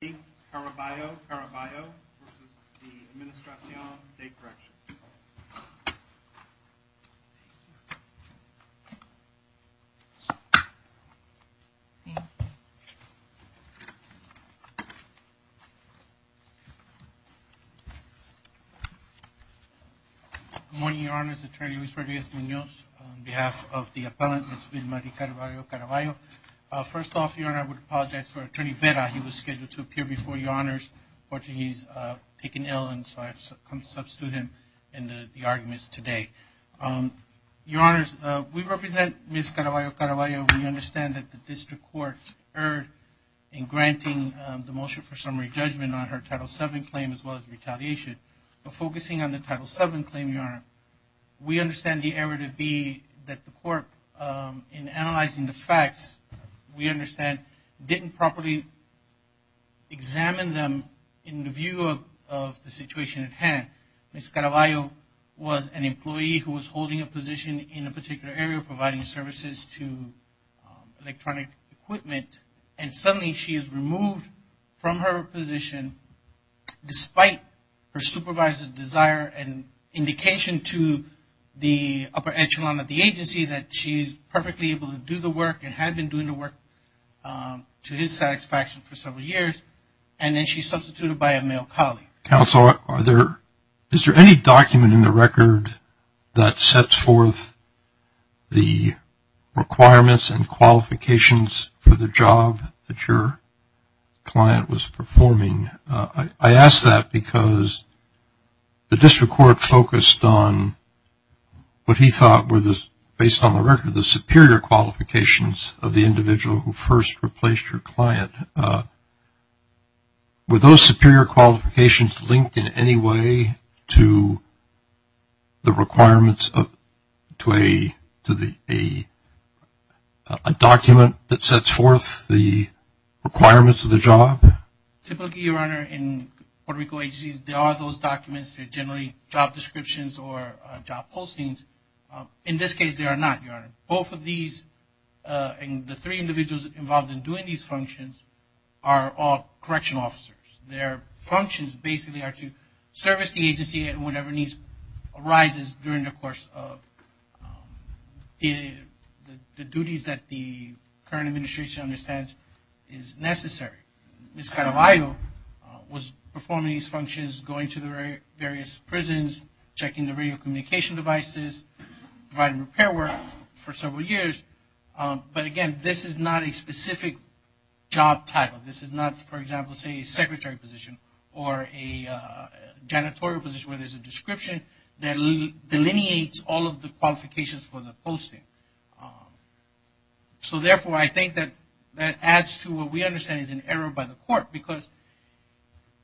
Good morning, Your Honors. Attorney Luis Rodriguez Munoz on behalf of the appellant, Ms. Vilma de Caraballo-Caraballo. First off, Your Honor, I would apologize for Attorney Vera. He was scheduled to appear before Your Honors. Unfortunately, he's taken ill and so I've come to substitute him in the arguments today. Your Honors, we represent Ms. Caraballo-Caraballo. We understand that the district court erred in granting the motion for summary judgment on her Title VII claim as well as retaliation. But focusing on the Title VII claim, Your Honor, we understand the error to be that the court in analyzing the facts, we understand, didn't properly examine them in the view of the situation at hand. Ms. Caraballo-Caraballo was an employee who was holding a position in a particular area providing services to electronic equipment and suddenly she is removed from her position despite her supervisor's desire and indication to the upper echelon of the agency that she's perfectly able to do the work and had been doing the work to his satisfaction for several years and then she's substituted by a male colleague. Counsel, is there any document in the record that sets forth the requirements and qualifications for the job that your client was performing? I ask that because the district court focused on what he thought were the, based on the record, the superior qualifications of the individual who first replaced your client. Were those superior qualifications linked in any way to the requirements of, to a document that sets forth the requirements of the job? Typically, Your Honor, in Puerto Rico there are those documents that generally job descriptions or job postings. In this case, there are not, Your Honor. Both of these and the three individuals involved in doing these functions are all correctional officers. Their functions basically are to service the agency at whatever needs arises during the course of the duties that the current administration understands is necessary. Ms. Carvalho was performing these functions, going to the various prisons, checking the radio communication devices, providing repair work for several years. But again, this is not a specific job title. This is not, for example, say a secretary position or a janitorial position where there's a description that delineates all of the qualifications for the posting. So therefore, I think that adds to what we understand is an error by the court. Because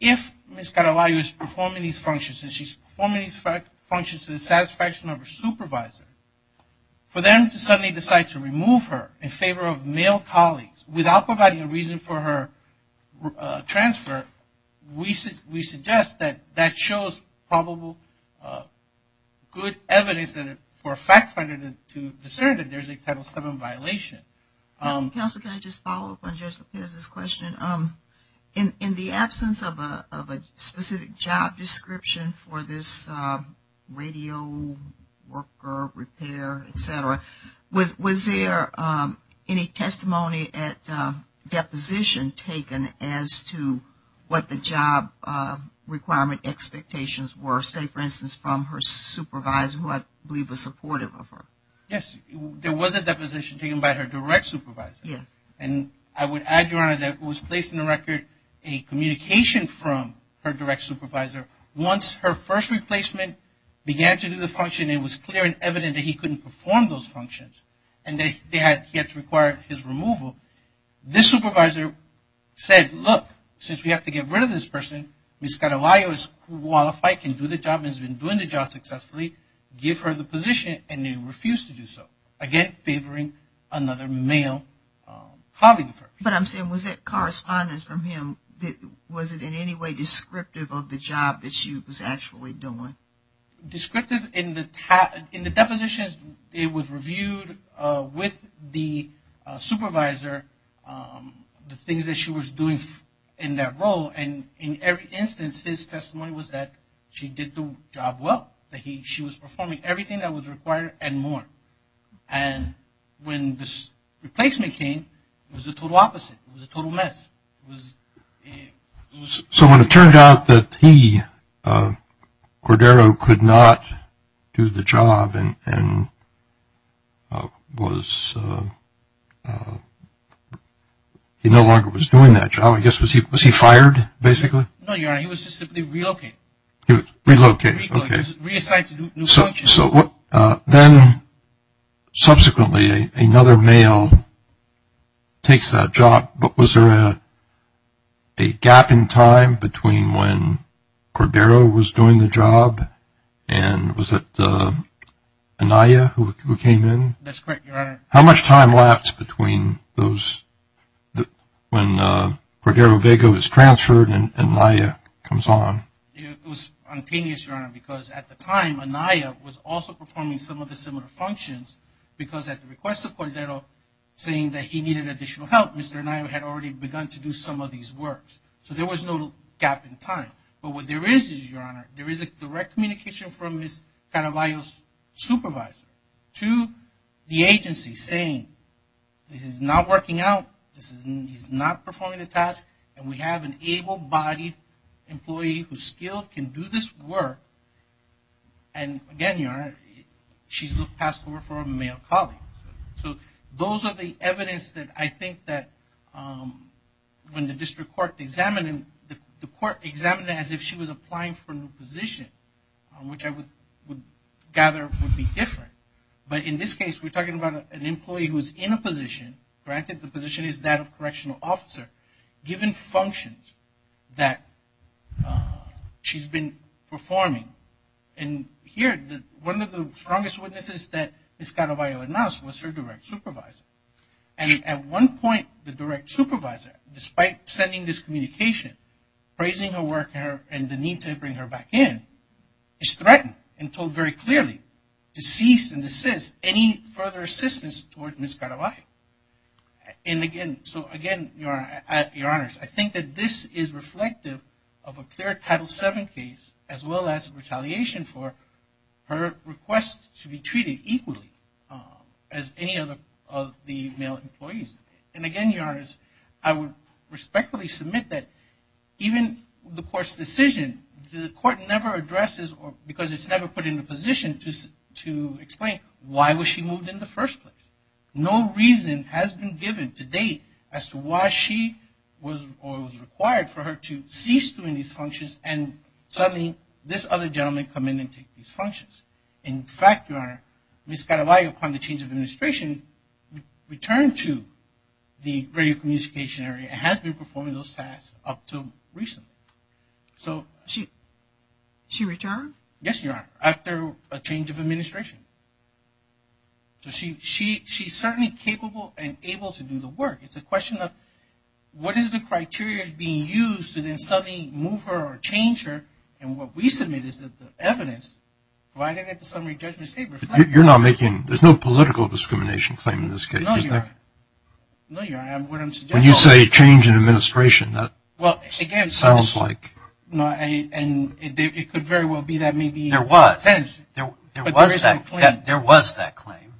if Ms. Carvalho is performing these functions and she's performing these functions to the satisfaction of her supervisor, for them to suddenly decide to remove her in favor of male colleagues without providing a reason for her transfer, we suggest that that shows probable good evidence for a fact there's a Title VII violation. Counselor, can I just follow up on Judge Lopez's question? In the absence of a specific job description for this radio worker repair, etc., was there any testimony at deposition taken as to what the job requirement expectations were, say for instance, from her supervisor? Yes, there was a deposition taken by her direct supervisor. Yes. And I would add, Your Honor, that it was placed in the record a communication from her direct supervisor. Once her first replacement began to do the function, it was clear and evident that he couldn't perform those functions and that he had to require his removal. This supervisor said, look, since we have to get rid of this person, Ms. Carvalho is qualified, can do the job and has been doing the position and he refused to do so, again, favoring another male colleague of hers. But I'm saying, was it correspondence from him? Was it in any way descriptive of the job that she was actually doing? Descriptive in the depositions, it was reviewed with the supervisor, the things that she was doing in that role, and in every instance, his testimony was that she did the job well, that she was performing everything that was required and more. And when this replacement came, it was the total opposite. It was a total mess. So when it turned out that he, Cordero, could not do the job and was, he no longer was doing that job, I guess, was he fired, basically? No, Your Honor, he was simply relocated. Relocated, okay. So then, subsequently, another male takes that job, but was there a gap in time between when Cordero was doing the job and was it Anaya who came in? That's correct, Your Honor. How much time lapsed between those, when Cordero Vega was transferred and Anaya comes on? It was spontaneous, Your Honor, because at the time, Anaya was also performing some of the similar functions because at the request of Cordero, saying that he needed additional help, Mr. Anaya had already begun to do some of these works. So there was no gap in time. But what there is, Your Honor, there is a direct communication from Ms. Caravaglio's supervisor to the agency saying, this is not working out, he's not performing the task, and we have an able-bodied employee who's skilled, can do this work. And again, Your Honor, she's passed over for a male colleague. So those are the evidence that I think that when the district court examined, the court examined it as if she was applying for a new position, which I would gather would be an employee who's in a position, granted the position is that of correctional officer, given functions that she's been performing. And here, one of the strongest witnesses that Ms. Caravaglio announced was her direct supervisor. And at one point, the direct supervisor, despite sending this communication, praising her work and the need to bring her back in, is threatened and told very bluntly to Ms. Caravaglio. And again, so again, Your Honors, I think that this is reflective of a clear Title VII case, as well as retaliation for her request to be treated equally as any other of the male employees. And again, Your Honors, I would respectfully submit that even the court's decision, the court never addresses or because it's never put in the position to explain why was she moved in the first place. No reason has been given to date as to why she was or was required for her to cease doing these functions. And suddenly, this other gentleman come in and take these functions. In fact, Your Honor, Ms. Caravaglio, upon the change of administration, returned to the radio communication area and has been performing those tasks up to recently. So... She returned? Yes, Your Honor, after a change of administration. So she's certainly capable and able to do the work. It's a question of what is the criteria being used to then suddenly move her or change her. And what we submit is that the evidence provided at the summary judgment state reflects that. You're not making... There's no political discrimination claim in this case, is there? No, Your Honor. No, Your Honor, I wouldn't suggest so. When you say change in administration, that sounds like... There was that claim.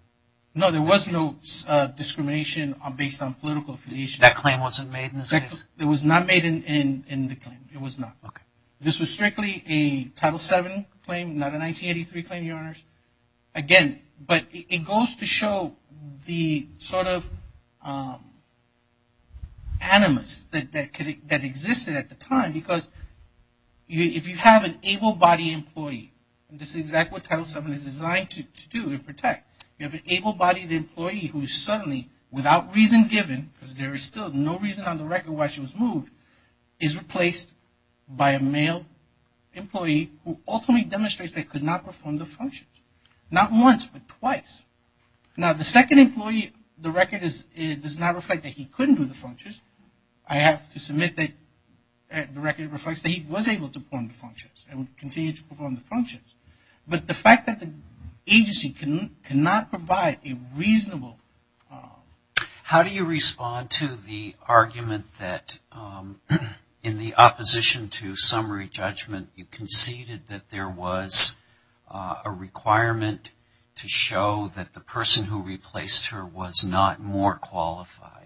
No, there was no discrimination based on political affiliation. That claim wasn't made in this case? It was not made in the claim. It was not. This was strictly a Title VII claim, not a 1983 claim, Your Honors. Again, but it goes to show the sort of animus that existed at the time because if you have an able-bodied employee, this is exactly what Title VII is designed to do and protect. You have an able-bodied employee who is suddenly, without reason given, because there is still no reason on the record why she was moved, is replaced by a male employee who ultimately demonstrates they could not perform the functions. Not once, but twice. Now the second employee, the record does not reflect that he couldn't do the functions. I have to submit that the record reflects that he was able to perform the functions and would continue to perform the functions. But the fact that the agency cannot provide a reasonable... How do you respond to the argument that in the opposition to summary judgment, you conceded that there was a requirement to show that the person who replaced her was not more qualified?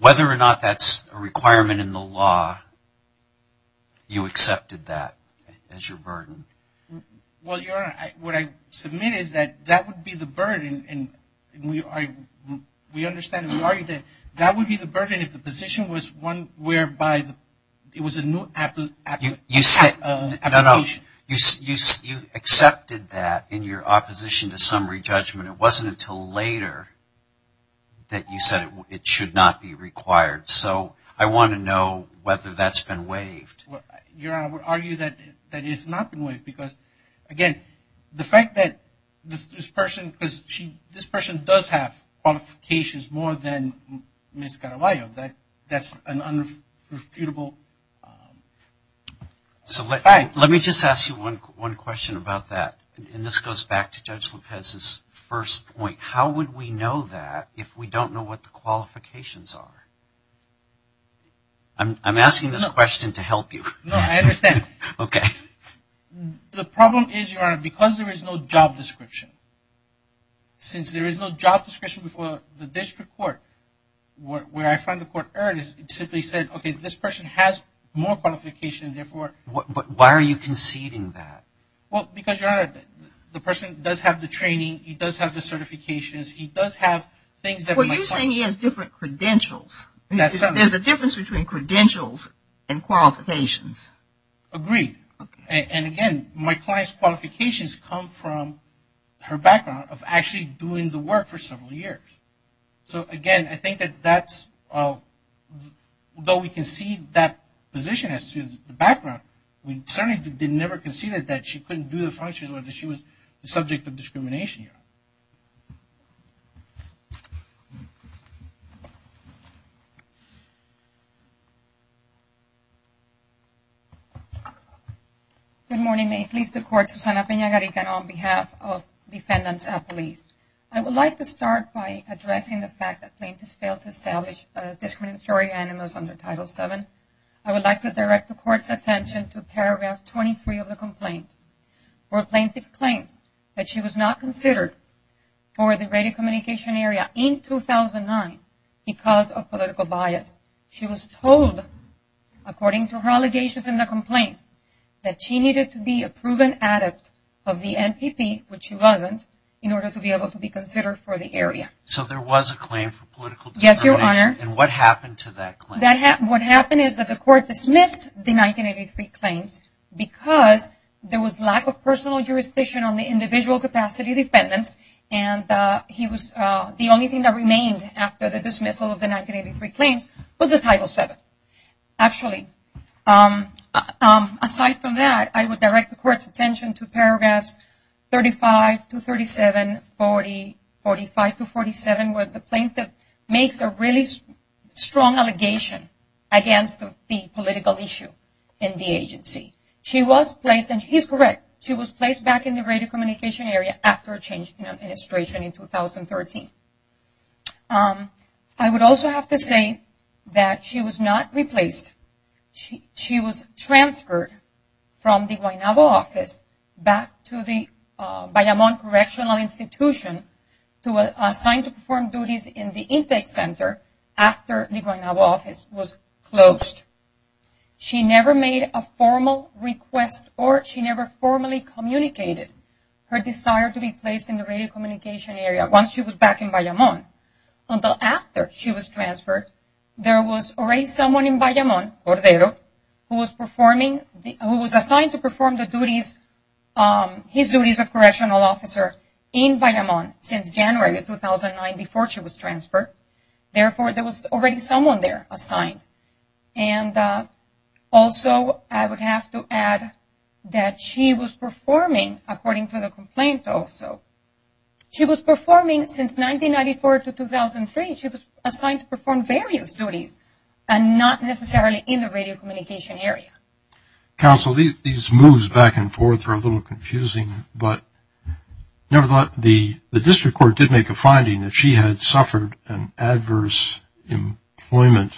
Whether or not that's a law, you accepted that as your burden? Well, Your Honor, what I submit is that that would be the burden. We understand and we argue that that would be the burden if the position was one whereby it was a new application. You accepted that in your Your Honor, I would argue that it has not been waived because, again, the fact that this person does have qualifications more than Ms. Carballo, that's an unrefutable fact. So let me just ask you one question about that. And this goes back to Judge Lopez's first point. How would we know that if we don't know what the qualifications are? I'm asking this question to help you. No, I understand. Okay. The problem is, Your Honor, because there is no job description, since there is no job description before the district court, where I find the court error is it simply said, okay, this person has more qualifications, therefore... But why are you conceding that? Well, because, Your Honor, the person does have the training, he does have the certifications, he does have things that... Well, you're saying he has different credentials. There's a difference between credentials and qualifications. Agreed. And, again, my client's qualifications come from her background of actually doing the work for several years. So, again, I concede that position as to the background. We certainly never conceded that she couldn't do the functions whether she was the subject of discrimination, Your Honor. Good morning. May it please the Court, Susana Peña-Harrigan, on behalf of defendants and police. I would like to start by addressing the fact that plaintiffs failed to establish a discriminatory animus under Title VII. I would like to direct the Court's attention to paragraph 23 of the complaint, where plaintiff claims that she was not considered for the radio communication area in 2009 because of political bias. She was told, according to her allegations in the complaint, that she needed to be a proven adept of the NPP, which she wasn't, in order to be able to be Yes, Your Honor. And what happened to that claim? What happened is that the Court dismissed the 1983 claims because there was lack of personal jurisdiction on the individual capacity defendants. And the only thing that remained after the dismissal of the 1983 claims was the Title VII. Actually, aside from that, I would direct the Court's attention to strong allegation against the political issue in the agency. She was placed, and he's correct, she was placed back in the radio communication area after a change in administration in 2013. I would also have to say that she was not replaced. She was transferred from the Guaynabo office back to the intake center after the Guaynabo office was closed. She never made a formal request or she never formally communicated her desire to be placed in the radio communication area once she was back in Bayamón until after she was transferred. There was already someone in Bayamón, Cordero, who was assigned to perform the duties, his duties of correctional officer in Bayamón since January 2009 before she was transferred. Therefore, there was already someone there assigned. And also, I would have to add that she was performing, according to the complaint also, she was performing since 1994 to 2003, she was assigned to the radio communication area. Counsel, these moves back and forth are a little confusing, but nevertheless, the district court did make a finding that she had suffered an adverse employment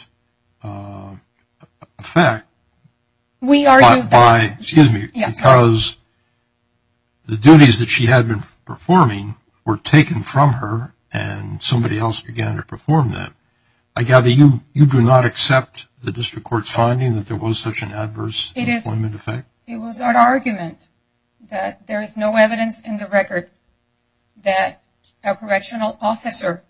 effect by, excuse me, because the duties that she had been performing were taken from her and somebody else began to perform them. I gather you do not accept the district court's finding that there was such an adverse employment effect? It was our argument that there is no evidence in the record that a correctional officer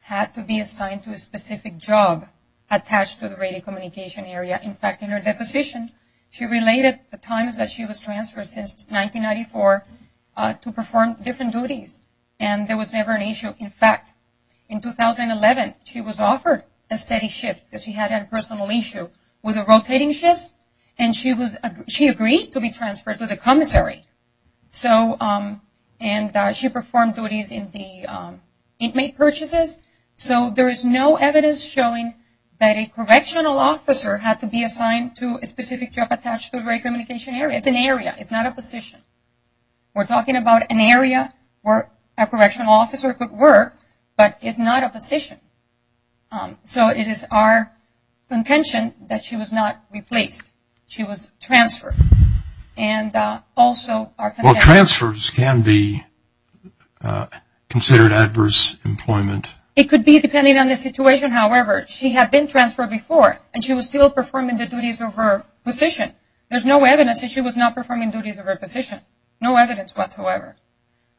had to be assigned to a specific job attached to the radio communication area. In fact, in her deposition, she related the times that she was transferred since 1994 to perform different duties and there was never an issue with the rotating shifts and she agreed to be transferred to the commissary. And she performed duties in the inmate purchases, so there is no evidence showing that a correctional officer had to be assigned to a specific job attached to the radio communication area. It is an area, it is not a position. We are talking about an area where a correctional officer could work, but it is not a position. So it is our contention that she was not replaced. She was transferred. Well, transfers can be considered adverse employment. It could be depending on the situation, however. She had been transferred before and she was still performing the duties of her position. There is no evidence that she was not performing duties of her position. No evidence whatsoever.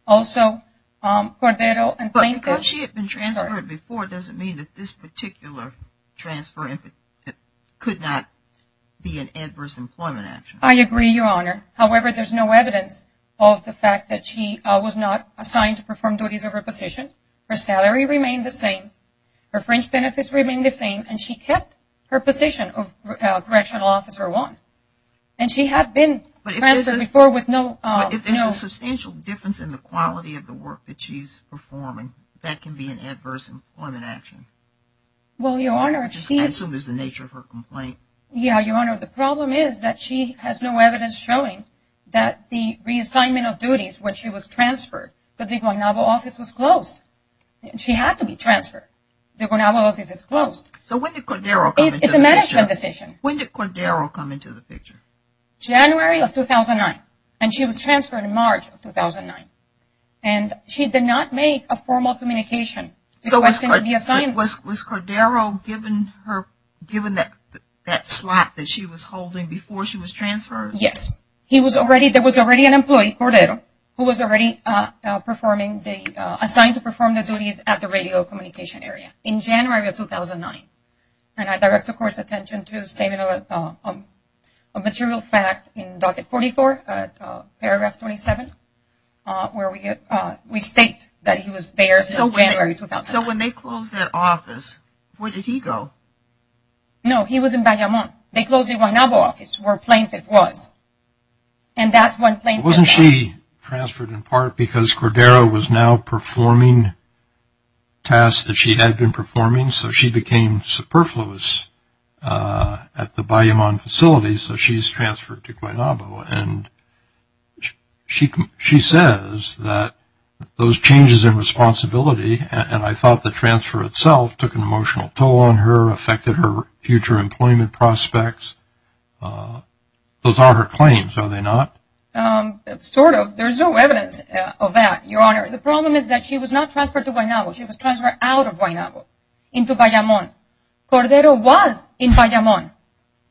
Also, Cordero and Planko. But because she had been transferred before, does it mean that this particular transfer could not be an adverse employment action? I agree, Your Honor. However, there is no evidence of the fact that she was not assigned to perform duties of her position. Her salary remained the same. Her fringe benefits remained the same, and she kept her position of correctional officer one. And she had been transferred before with no... But if there is a substantial difference in the quality of the work that she is performing, that can be an adverse employment action. Well, Your Honor, if she... As soon as the nature of her complaint. Yeah, Your Honor. The problem is that she has no evidence showing that the reassignment of duties when she was transferred, because the Guantanamo office was closed. She had to be transferred. The Guantanamo office is closed. So when did Cordero come into the picture? It's a management decision. When did Cordero come into the picture? January of 2009. And she was transferred in March of 2009. And she did not make a formal communication. So was Cordero given that slot that she was holding before she was transferred? Yes. There was already an employee, Cordero, who was already assigned to perform the duties at the radio communication area in January of 2009. And I direct the Court's attention to a statement of a material fact in docket 44, paragraph 27, where we state that he was there since January 2009. So when they closed that office, where did he go? No, he was in Guantanamo. They closed the Guantanamo office where Plaintiff was. And that's when Plaintiff... Wasn't she transferred in part because Cordero was now performing tasks that she had been performing? So she became superfluous at the Guantanamo facility, so she's transferred to Guantanamo. And she says that those changes in responsibility, and I thought the transfer itself took an emotional toll on her, affected her future employment prospects. Those aren't her claims, are they not? Sort of. There's no evidence of that, Your Honor. The problem is that she was not transferred to Guantanamo. She was transferred out of Guantanamo into Bayamón. Cordero was in Bayamón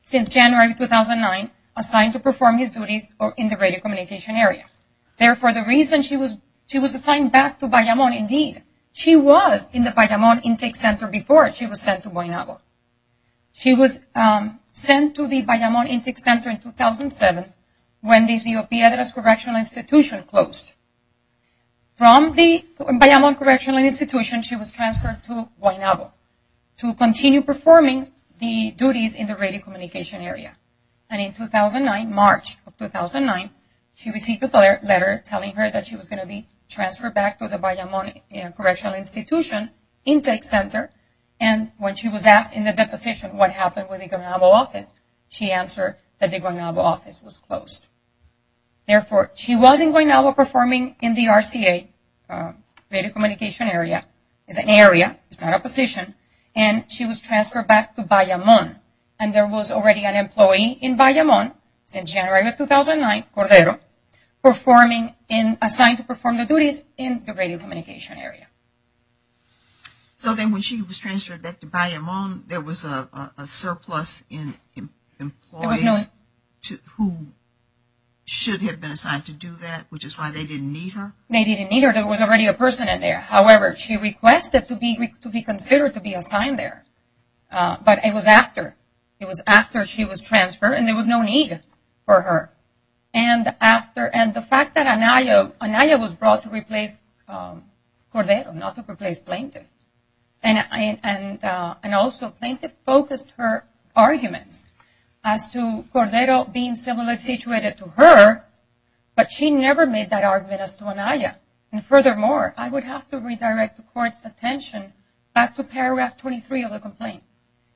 since January 2009, assigned to perform his duties in the radio communication area. Therefore, the reason she was assigned back to Bayamón, indeed, she was in the Bayamón Intake Center before she was sent to Guantanamo. She was sent to the Bayamón Intake Center in 2007 when the Rio Piedras Correctional Institution closed. From the Bayamón Correctional Institution, she was transferred to Guantanamo to continue performing the duties in the radio communication area. And in 2009, March of 2009, she received a letter telling her that she was going to be transferred back to the Bayamón Correctional Institution Intake Center. And when she was asked in the deposition what happened with the Guantanamo office, she answered that the Guantanamo office was closed. Therefore, she wasn't going out or performing in the RCA radio communication area. It's an area, it's not a position. And she was transferred back to Bayamón. And there was already an employee in Bayamón since January 2009, Cordero, assigned to perform the duties in the radio communication area. So then when she was transferred back to Bayamón, there was a surplus in employees who should have been assigned to do that, which is why they didn't need her? They didn't need her. There was already a person in there. However, she requested to be considered to be assigned there. But it was after. It was after she was transferred, and there was no need for her. And the fact that Anaya was brought to replace Cordero, not to replace Plaintiff, and also Plaintiff focused her arguments as to Cordero being similarly situated to her, but she never made that argument as to Anaya. And furthermore, I would have to redirect the Court's attention back to paragraph 23 of the complaint.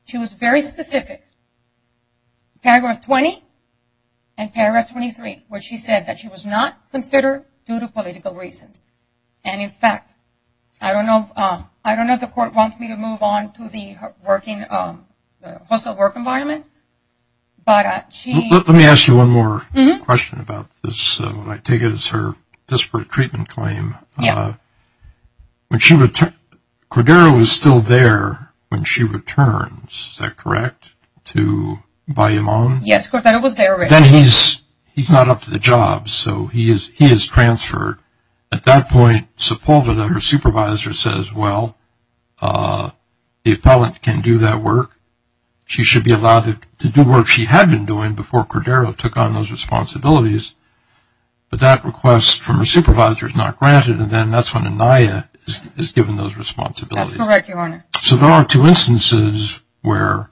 She was very specific, paragraph 20 and paragraph 23, where she said that she was not considered due to political reasons. And, in fact, I don't know if the Court wants me to move on to the working, the hostile work environment, but she. Let me ask you one more question about this. What I take is her disparate treatment claim. Yes. Cordero is still there when she returns, is that correct, to Bayoumon? Yes, Cordero was there. Then he's not up to the job, so he is transferred. At that point, Sepulveda, her supervisor, says, well, the appellant can do that work. She should be allowed to do work she had been doing before Cordero took on those responsibilities. But that request from her supervisor is not granted, and then that's when Anaya is given those responsibilities. That's correct, Your Honor. So there are two instances where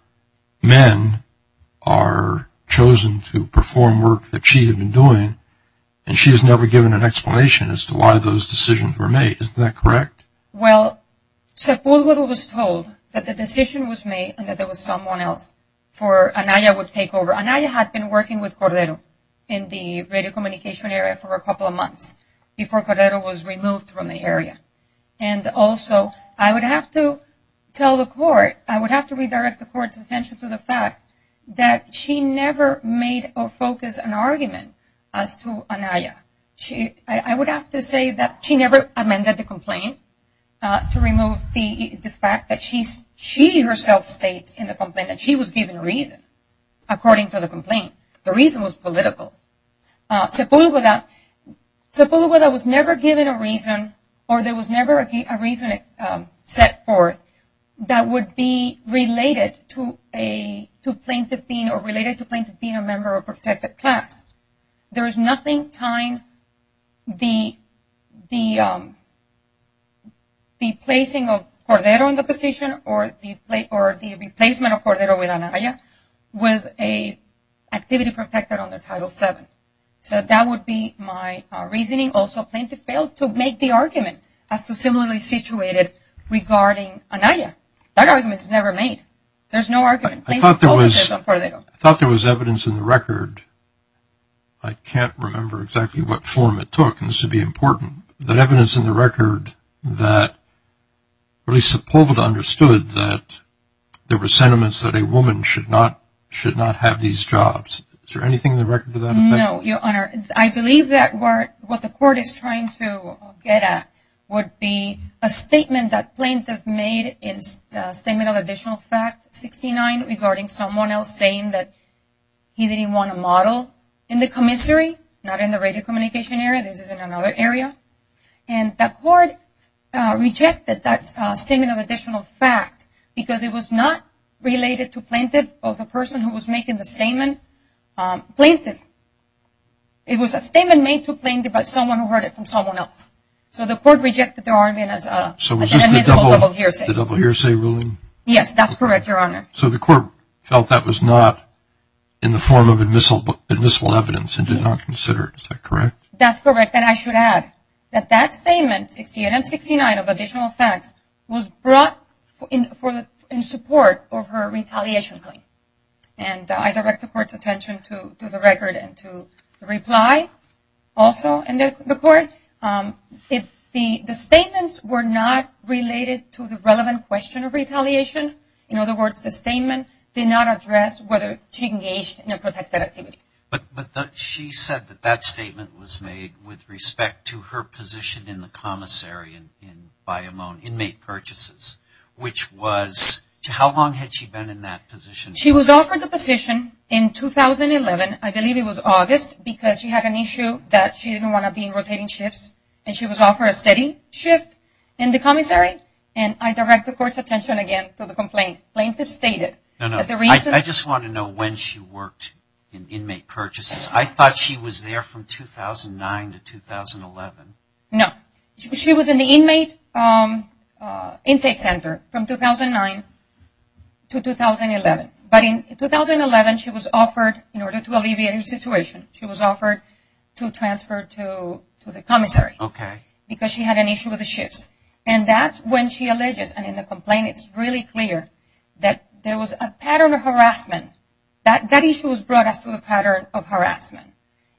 men are chosen to perform work that she had been doing, and she has never given an explanation as to why those decisions were made. Isn't that correct? Well, Sepulveda was told that the decision was made and that there was someone else for Anaya would take over. Anaya had been working with Cordero in the radio communication area for a couple of months before Cordero was removed from the area. And also, I would have to tell the court, I would have to redirect the court's attention to the fact that she never made or focused an argument as to Anaya. I would have to say that she never amended the complaint to remove the fact that she herself states in the complaint that she was given a reason according to the complaint. The reason was political. Sepulveda was never given a reason or there was never a reason set forth that would be related to plaintiff being or related to plaintiff being a member of a protected class. There is nothing tying the placing of Cordero in the position or the replacement of Cordero with Anaya with an activity protected under Title VII. So that would be my reasoning. Also, plaintiff failed to make the argument as to similarly situated regarding Anaya. That argument is never made. There's no argument. I thought there was evidence in the record. I can't remember exactly what form it took, and this would be important, but evidence in the record that at least Sepulveda understood that there were sentiments that a woman should not have these jobs. Is there anything in the record to that effect? No, Your Honor. I believe that what the court is trying to get at would be a statement that plaintiff made, a statement of additional fact 69 regarding someone else saying that he didn't want a model in the commissary, not in the radio communication area. This is in another area. And the court rejected that statement of additional fact because it was not related to plaintiff or the person who was making the statement plaintiff. It was a statement made to plaintiff by someone who heard it from someone else. So the court rejected the argument as an admissible double hearsay. So was this the double hearsay ruling? Yes, that's correct, Your Honor. So the court felt that was not in the form of admissible evidence and did not consider it. Is that correct? That's correct. And I should add that that statement, 68 and 69 of additional facts, was brought in support of her retaliation claim. And I direct the court's attention to the record and to the reply also. And the court, the statements were not related to the relevant question of retaliation. In other words, the statement did not address whether she engaged in a protected activity. But she said that that statement was made with respect to her position in the commissary and by her own inmate purchases. How long had she been in that position? She was offered the position in 2011. I believe it was August because she had an issue that she didn't want to be in rotating shifts. And she was offered a steady shift in the commissary. And I direct the court's attention again to the complaint. Plaintiff stated that the reason... I just want to know when she worked in inmate purchases. I thought she was there from 2009 to 2011. No. She was in the inmate intake center from 2009 to 2011. But in 2011, she was offered, in order to alleviate her situation, she was offered to transfer to the commissary. Okay. Because she had an issue with the shifts. And that's when she alleges, and in the complaint it's really clear, that there was a pattern of harassment. That issue was brought us to the pattern of harassment.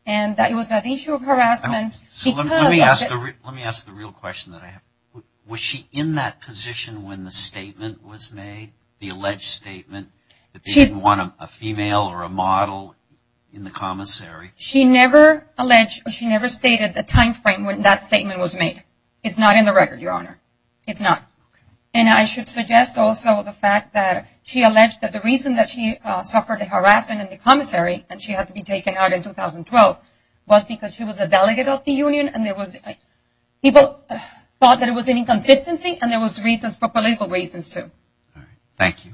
And that it was an issue of harassment because... Let me ask the real question that I have. Was she in that position when the statement was made, the alleged statement, that they didn't want a female or a model in the commissary? She never alleged or she never stated the time frame when that statement was made. It's not in the record, Your Honor. It's not. And I should suggest also the fact that she alleged that the reason that she suffered harassment in the commissary, and she had to be taken out in 2012, was because she was a delegate of the union and there was people thought that it was an inconsistency and there was reasons for political reasons too. All right. Thank you.